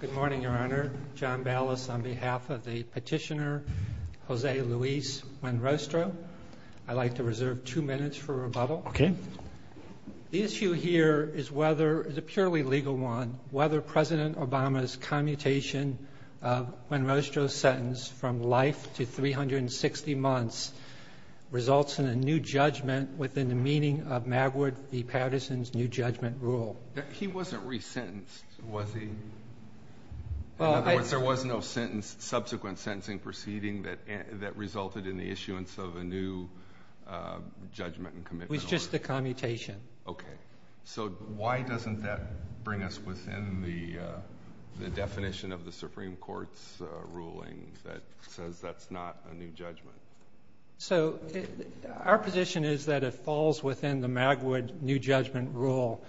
Good morning, Your Honor. John Ballas on behalf of the petitioner Jose Luis Buenrostro. I'd like to reserve two minutes for rebuttal. Okay. The issue here is whether, it's a purely legal one, whether President Obama's commutation of Buenrostro's sentence from life to 360 months results in a new judgment within the meaning of Magwood v. Patterson's new judgment rule. He wasn't resentenced, was he? In other words, there was no subsequent sentencing proceeding that resulted in the issuance of a new judgment and commitment. It was just the commutation. Okay. So why doesn't that bring us within the definition of the Supreme Court's ruling that says that's not a new judgment? So our position is that it falls within the Magwood new judgment rule,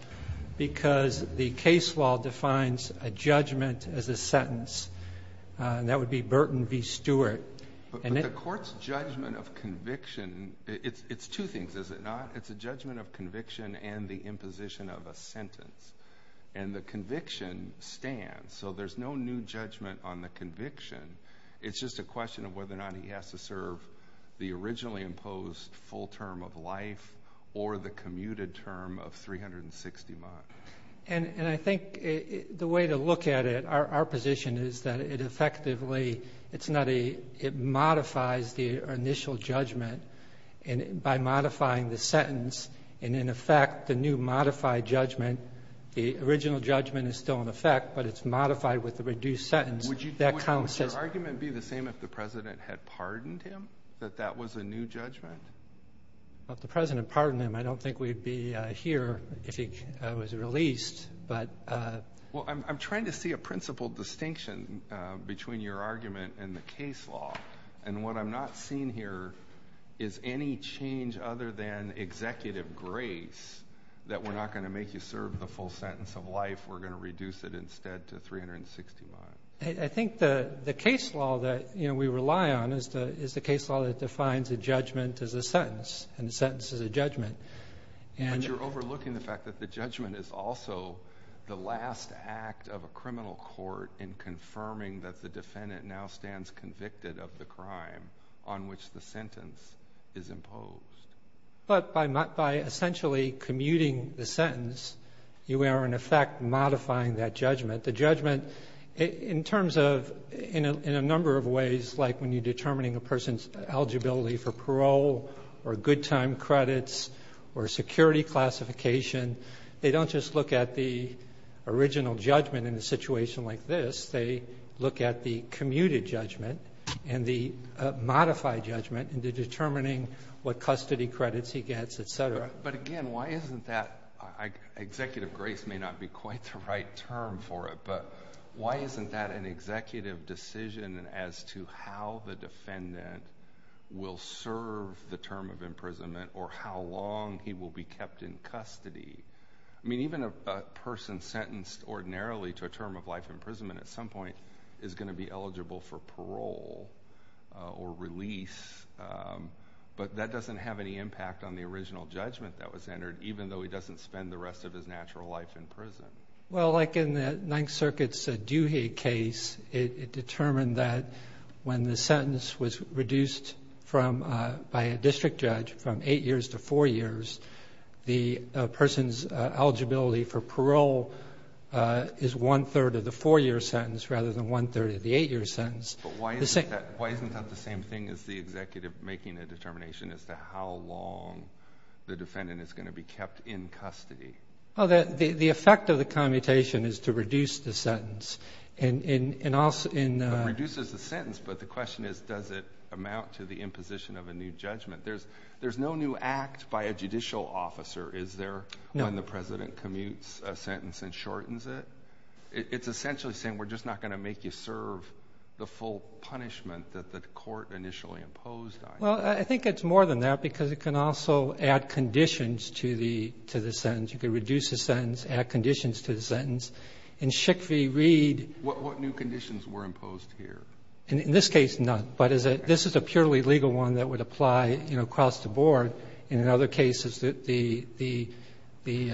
because the case law defines a judgment as a sentence. That would be Burton v. Stewart. But the court's judgment of conviction, it's two things, is it not? It's a judgment of conviction and the imposition of a sentence. And the conviction stands. So there's no new judgment on the conviction. It's just a question of whether or not he has to serve the originally imposed full term of life or the commuted term of 360 months. And I think the way to look at it, our position is that it effectively, it's not a, it modifies the initial judgment by modifying the sentence. And in effect, the new modified judgment, the original judgment is still in effect, but it's modified with pardoned him, that that was a new judgment? Well, if the President pardoned him, I don't think we'd be here if he was released, but... Well, I'm trying to see a principal distinction between your argument and the case law. And what I'm not seeing here is any change other than executive grace that we're not going to make you serve the full sentence of life. We're going to reduce it instead to 360 months. I think the case law that we rely on is the case law that defines a judgment as a sentence, and a sentence is a judgment. But you're overlooking the fact that the judgment is also the last act of a criminal court in confirming that the defendant now stands convicted of the crime on which the sentence is imposed. But by essentially commuting the sentence, you are in effect modifying that judgment. The judgment, in terms of, in a number of ways, like when you're determining a person's eligibility for parole or good time credits or security classification, they don't just look at the original judgment in a situation like this. They look at the commuted judgment and the modified judgment into determining what custody credits he gets, et cetera. But again, why isn't that, executive grace may not be quite the right term for it, but why isn't that an executive decision as to how the defendant will serve the term of imprisonment or how long he will be kept in custody? I mean, even a person sentenced ordinarily to a term of life imprisonment at some point is going to be eligible for even though he doesn't spend the rest of his natural life in prison. Well, like in the Ninth Circuit's Duhigg case, it determined that when the sentence was reduced by a district judge from eight years to four years, the person's eligibility for parole is one-third of the four-year sentence rather than one-third of the eight-year sentence. But why isn't that the same thing as the executive making a determination as to how long the defendant is going to be kept in custody? Well, the effect of the commutation is to reduce the sentence. It reduces the sentence, but the question is, does it amount to the imposition of a new judgment? There's no new act by a judicial officer, is there, when the president commutes a sentence and shortens it? It's essentially saying, we're just not going to make you serve the full punishment that the court initially imposed on you. Well, I think it's more than that, because it can also add conditions to the sentence. You can reduce the sentence, add conditions to the sentence. In Schick v. Reed ---- What new conditions were imposed here? In this case, none. But this is a purely legal one that would apply, you know, across the board. And in other cases, the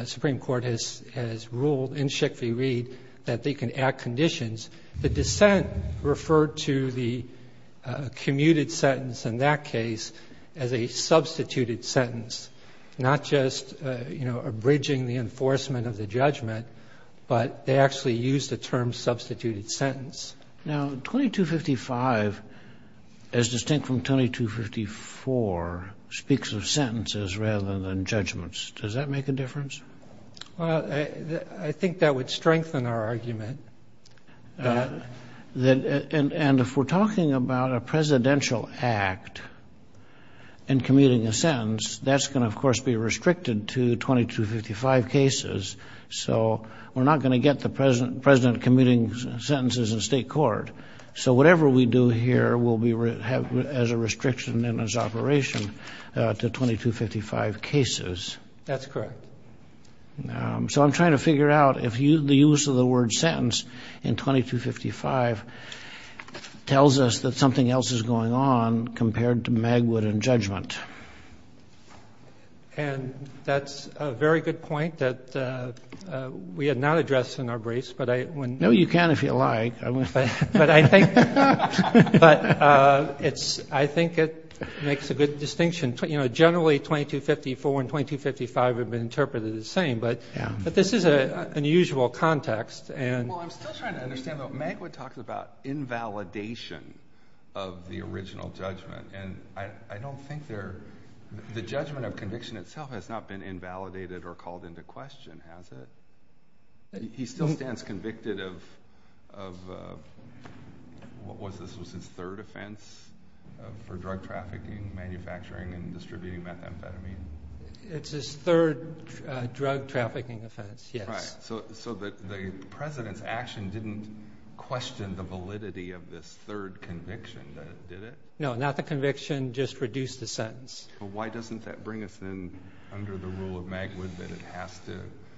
Supreme Court has ruled in Schick v. Reed that they can add conditions. The dissent referred to the commuted sentence in that case, as a substituted sentence, not just, you know, abridging the enforcement of the judgment, but they actually used the term substituted sentence. Now, 2255, as distinct from 2254, speaks of sentences rather than judgments. Does that make a difference? And if we're talking about a presidential act and commuting a sentence, that's going to, of course, be restricted to 2255 cases. So we're not going to get the president commuting sentences in state court. So whatever we do here will be as a restriction in its operation to 2255 cases. That's correct. So I'm trying to figure out if the use of the word sentence in 2255 tells us that something else is going on compared to Magwood and judgment. And that's a very good point that we had not addressed in our briefs. No, you can if you like. But I think it makes a good distinction. Generally, 2254 and 2255 have been interpreted the same. But this is an unusual context. Well, I'm still trying to understand, though. Magwood talks about invalidation of the original judgment. And I don't think the judgment of conviction itself has not been invalidated or called into question, has it? He still stands convicted of, what was this? Was this his third offense for drug trafficking, manufacturing, and distributing methamphetamine? It's his third drug trafficking offense, yes. So the president's action didn't question the validity of this third conviction, did it? No, not the conviction, just reduce the sentence. Well, why doesn't that bring us in under the rule of Magwood that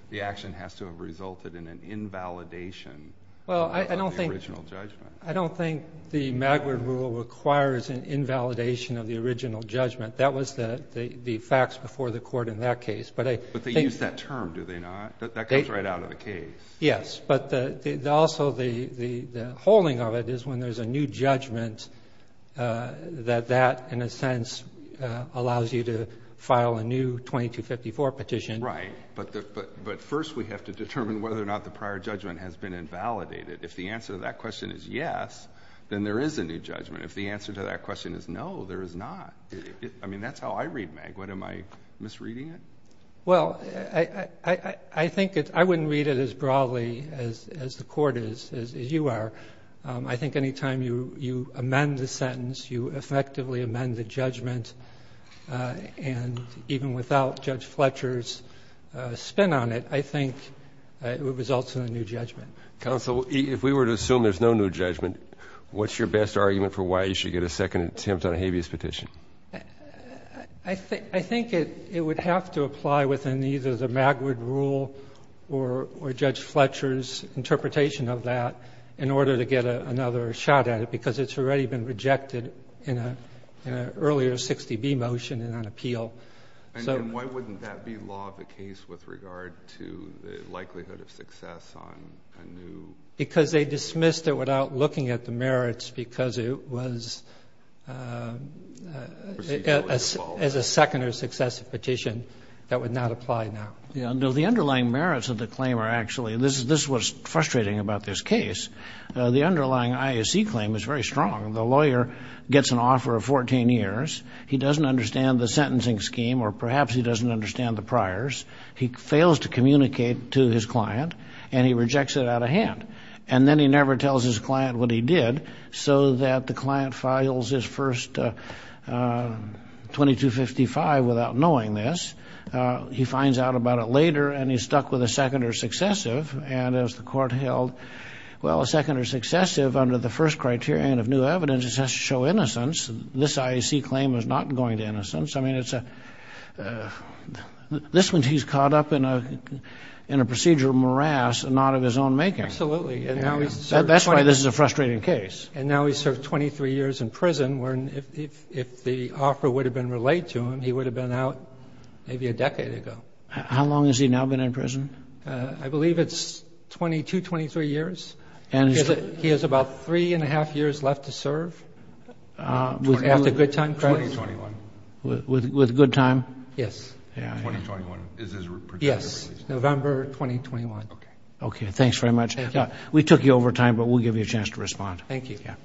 the action has to have resulted in an invalidation of the original judgment? I don't think the Magwood rule requires an invalidation of the original judgment. That was the facts before the Court in that case. But I think they use that term, do they not? That comes right out of the case. Yes. But also the holding of it is when there's a new judgment, that that, in a sense, allows you to file a new 2254 petition. Right. But first we have to determine whether or not the prior judgment has been invalidated. If the answer to that question is yes, then there is a new judgment. If the answer to that question is no, there is not. I mean, that's how I read Magwood. Am I misreading it? Well, I think it's — I wouldn't read it as broadly as the Court is, as you are. I think any time you amend the sentence, you effectively amend the judgment, and even without Judge Fletcher's spin on it, I think it would result in a new judgment. Counsel, if we were to assume there's no new judgment, what's your best argument for why you should get a second attempt on a habeas petition? I think it would have to apply within either the Magwood rule or Judge Fletcher's interpretation of that in order to get another shot at it, because it's already been rejected in an earlier 60B motion and on appeal. And why wouldn't that be law of the case with regard to the likelihood of success on a new? Because they dismissed it without looking at the merits because it was as a second or successive petition that would not apply now. Yeah. No, the underlying merits of the claim are actually — this is what's frustrating about this case. The underlying IAC claim is very strong. The lawyer gets an offer of 14 years. He doesn't understand the sentencing scheme, or perhaps he doesn't understand the priors. He fails to communicate to his client, and he rejects it out of hand. And then he never tells his client what he did so that the client files his first 2255 without knowing this. He finds out about it later, and he's stuck with a second or successive. And as the court held, well, a second or successive under the first criterion of new evidence has to show innocence. This IAC claim is not going to innocence. I mean, it's a — this means he's caught up in a procedure of morass and not of his own making. Absolutely. And now he's served 20 years. That's why this is a frustrating case. And now he's served 23 years in prison, where if the offer would have been relayed to him, he would have been out maybe a decade ago. How long has he now been in prison? I believe it's 22, 23 years. He has about three-and-a-half years left to serve. After good time, correct? 2021. With good time? Yes. Yeah. 2021. Yes. November 2021. Okay. Thanks very much. We took you over time, but we'll give you a chance to respond. Thank you. Yeah.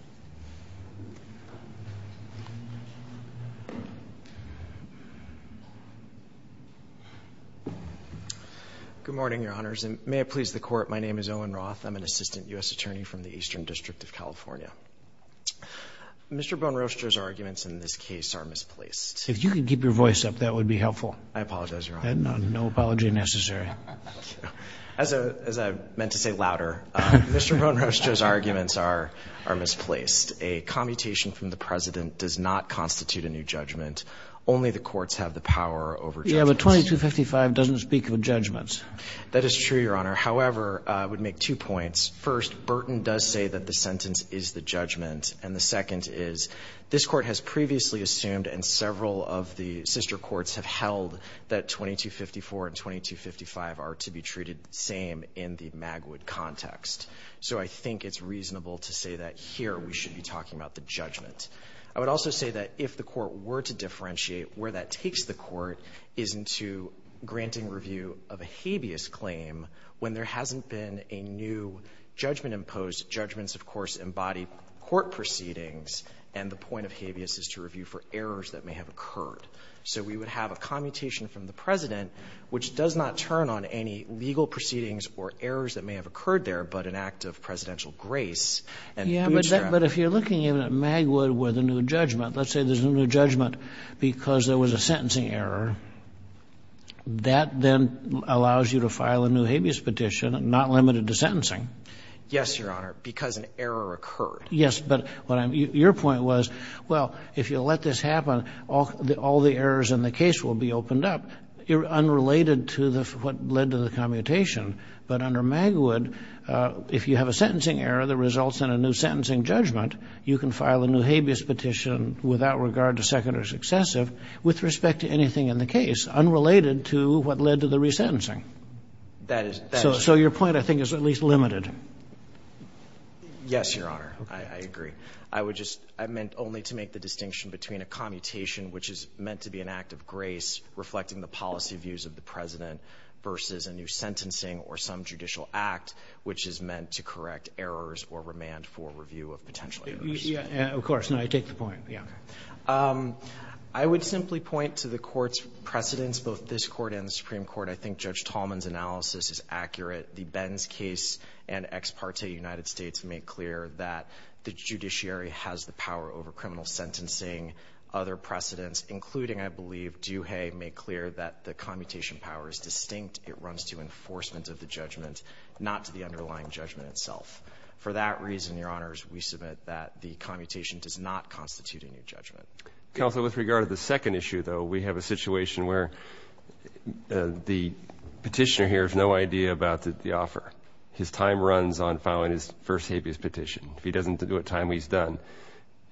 Good morning, Your Honors. And may it please the Court, my name is Owen Roth. I'm an assistant U.S. attorney from the Eastern District of California. Mr. Bone Roster's arguments in this case are misplaced. If you could keep your voice up, that would be helpful. I apologize, Your Honor. No apology necessary. As I meant to say louder, Mr. Bone Roster's arguments are misplaced. A commutation from the President does not constitute a new judgment. Only the courts have the power over judgments. Yeah, but 2255 doesn't speak of judgments. That is true, Your Honor. However, I would make two points. First, Burton does say that the sentence is the judgment. And the second is, this Court has previously assumed, and several of the sister courts have held, that 2254 and 2255 are to be treated the same in the Magwood context. So I think it's reasonable to say that here we should be talking about the judgment. I would also say that if the Court were to differentiate where that takes the Court, is into granting review of a habeas claim when there hasn't been a new judgment imposed. Judgments, of course, embody court proceedings, and the point of habeas is to review for errors that may have occurred. So we would have a commutation from the President, which does not turn on any legal proceedings or errors that may have occurred there, but an act of presidential grace and bootstrap. Yeah, but if you're looking even at Magwood with a new judgment, let's say there's a sentencing error, that then allows you to file a new habeas petition, not limited to sentencing. Yes, Your Honor, because an error occurred. Yes, but your point was, well, if you let this happen, all the errors in the case will be opened up, unrelated to what led to the commutation. But under Magwood, if you have a sentencing error that results in a new sentencing judgment, you can file a new habeas petition without regard to second or successive with respect to anything in the case, unrelated to what led to the resentencing. So your point, I think, is at least limited. Yes, Your Honor. I agree. I would just — I meant only to make the distinction between a commutation, which is meant to be an act of grace reflecting the policy views of the President versus a new sentencing or some judicial act, which is meant to correct errors or remand for review of potential errors. Of course. No, I take the point. Yeah. I would simply point to the Court's precedents, both this Court and the Supreme Court. I think Judge Tallman's analysis is accurate. The Benz case and Ex parte United States make clear that the judiciary has the power over criminal sentencing. Other precedents, including, I believe, Duhay, make clear that the commutation power is distinct. It runs to enforcement of the judgment, not to the underlying judgment itself. For that reason, Your Honors, we submit that the commutation does not constitute a new judgment. Counsel, with regard to the second issue, though, we have a situation where the petitioner here has no idea about the offer. His time runs on filing his first habeas petition. If he doesn't do it in time, he's done.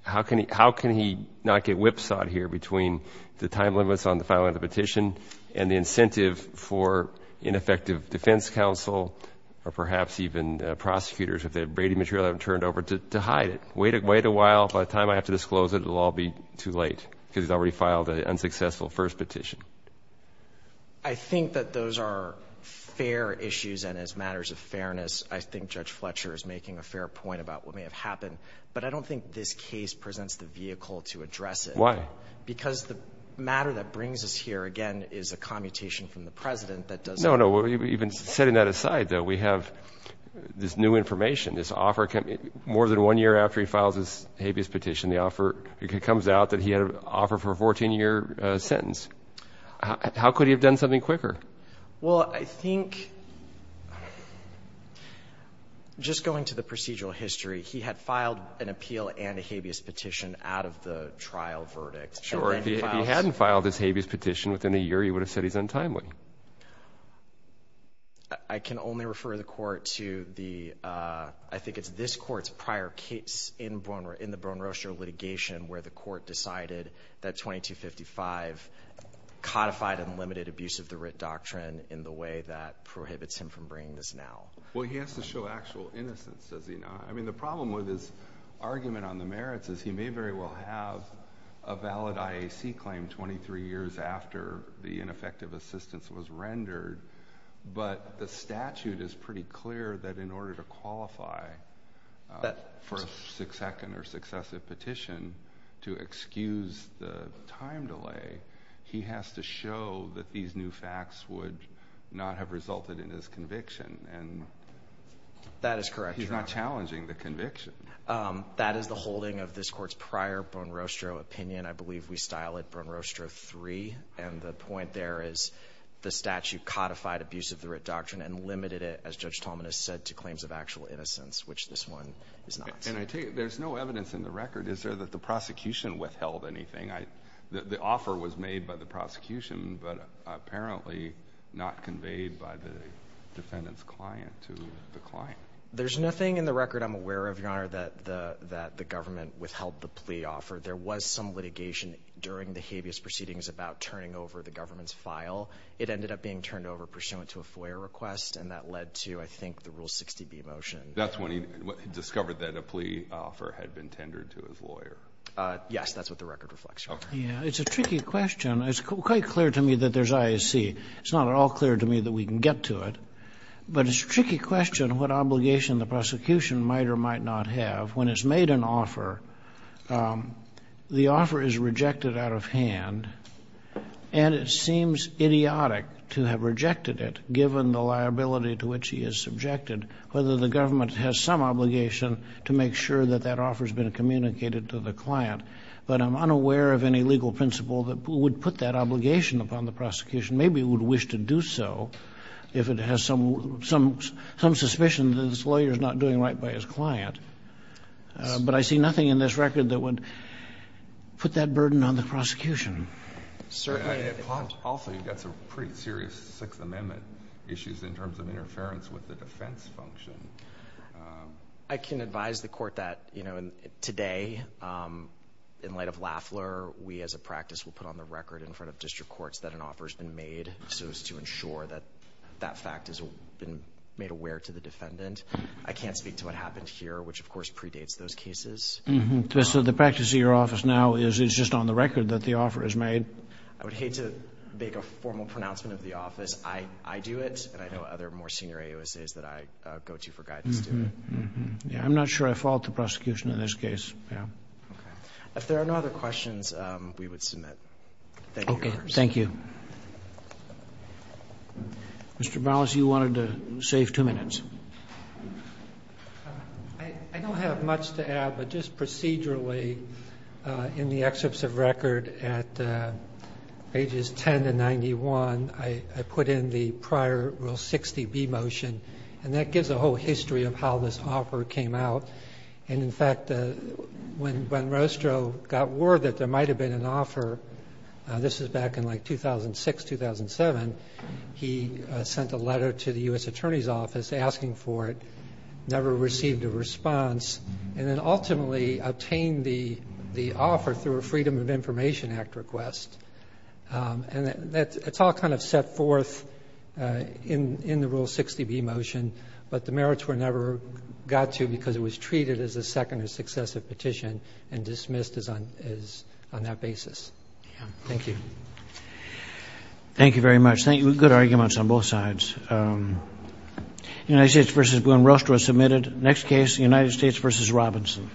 How can he not get whipsawed here between the time limits on the filing of the petition and the incentive for ineffective defense counsel or perhaps even prosecutors, if they have Brady material they haven't turned over, to hide it? Wait a while. By the time I have to disclose it, it will all be too late, because he's already filed an unsuccessful first petition. I think that those are fair issues, and as matters of fairness, I think Judge Fletcher is making a fair point about what may have happened. But I don't think this case presents the vehicle to address it. Why? Because the matter that brings us here, again, is a commutation from the President that does not. No, no. Even setting that aside, though, we have this new information. This offer, more than one year after he files his habeas petition, the offer, it comes out that he had an offer for a 14-year sentence. How could he have done something quicker? Well, I think, just going to the procedural history, he had filed an appeal and a habeas petition out of the trial verdict. Sure. If he hadn't filed his habeas petition within a year, he would have said he's untimely. I can only refer the Court to the — I think it's this Court's prior case in the Bone Roaster litigation where the Court decided that 2255 codified unlimited abuse of the writ doctrine in the way that prohibits him from bringing this now. Well, he has to show actual innocence, does he not? I mean, the problem with his argument on the merits is he may very well have a valid IAC claim 23 years after the ineffective assistance was rendered. But the statute is pretty clear that in order to qualify for a second or successive petition to excuse the time delay, he has to show that these new facts would not have resulted in his conviction. That is correct. He's not challenging the conviction. That is the holding of this Court's prior Bone Roaster opinion. I believe we style it Bone Roaster III. And the point there is the statute codified abuse of the writ doctrine and limited it, as Judge Tallman has said, to claims of actual innocence, which this one is not. And I take it there's no evidence in the record. Is there that the prosecution withheld anything? The offer was made by the prosecution, but apparently not conveyed by the defendant's client to the client. There's nothing in the record I'm aware of, Your Honor, that the government withheld the plea offer. There was some litigation during the habeas proceedings about turning over the government's file. It ended up being turned over pursuant to a FOIA request, and that led to, I think, the Rule 60b motion. That's when he discovered that a plea offer had been tendered to his lawyer. Yes. That's what the record reflects, Your Honor. Okay. Yeah. It's a tricky question. It's quite clear to me that there's IAC. It's not at all clear to me that we can get to it. But it's a tricky question what obligation the prosecution might or might not have when it's made an offer. The offer is rejected out of hand, and it seems idiotic to have rejected it, given the liability to which he is subjected, whether the government has some obligation to make sure that that offer has been communicated to the client. But I'm unaware of any legal principle that would put that obligation upon the prosecution. Maybe it would wish to do so if it has some suspicion that this lawyer is not doing right by his client. But I see nothing in this record that would put that burden on the prosecution. Certainly. Also, you've got some pretty serious Sixth Amendment issues in terms of interference with the defense function. I can advise the Court that, you know, today, in light of Lafler, we as a practice will put on the record in front of district courts that an offer has been made so as to ensure that that fact has been made aware to the defendant. I can't speak to what happened here, which, of course, predates those cases. So the practice of your office now is it's just on the record that the offer is made? I would hate to make a formal pronouncement of the office. I do it, and I know other more senior AUSAs that I go to for guidance do it. Yes. I'm not sure I fault the prosecution in this case, yes. Okay. If there are no other questions, we would submit. Thank you, Your Honor. Okay. Thank you. Mr. Ballas, you wanted to save two minutes. I don't have much to add, but just procedurally in the excerpts of record at pages 10 to 91, I put in the prior Rule 60B motion, and that gives a whole history of how this offer came out. And, in fact, when Ben Rostro got word that there might have been an offer, this is back in, like, 2006, 2007, he sent a letter to the U.S. Attorney's Office asking for it, never received a response, and then ultimately obtained the offer through a Freedom of Information Act request. And it's all kind of set forth in the Rule 60B motion, but the merits were never got to because it was treated as a second or successive petition and dismissed on that basis. Thank you. Thank you very much. Good arguments on both sides. United States v. Ben Rostro is submitted. Next case, United States v. Robinson.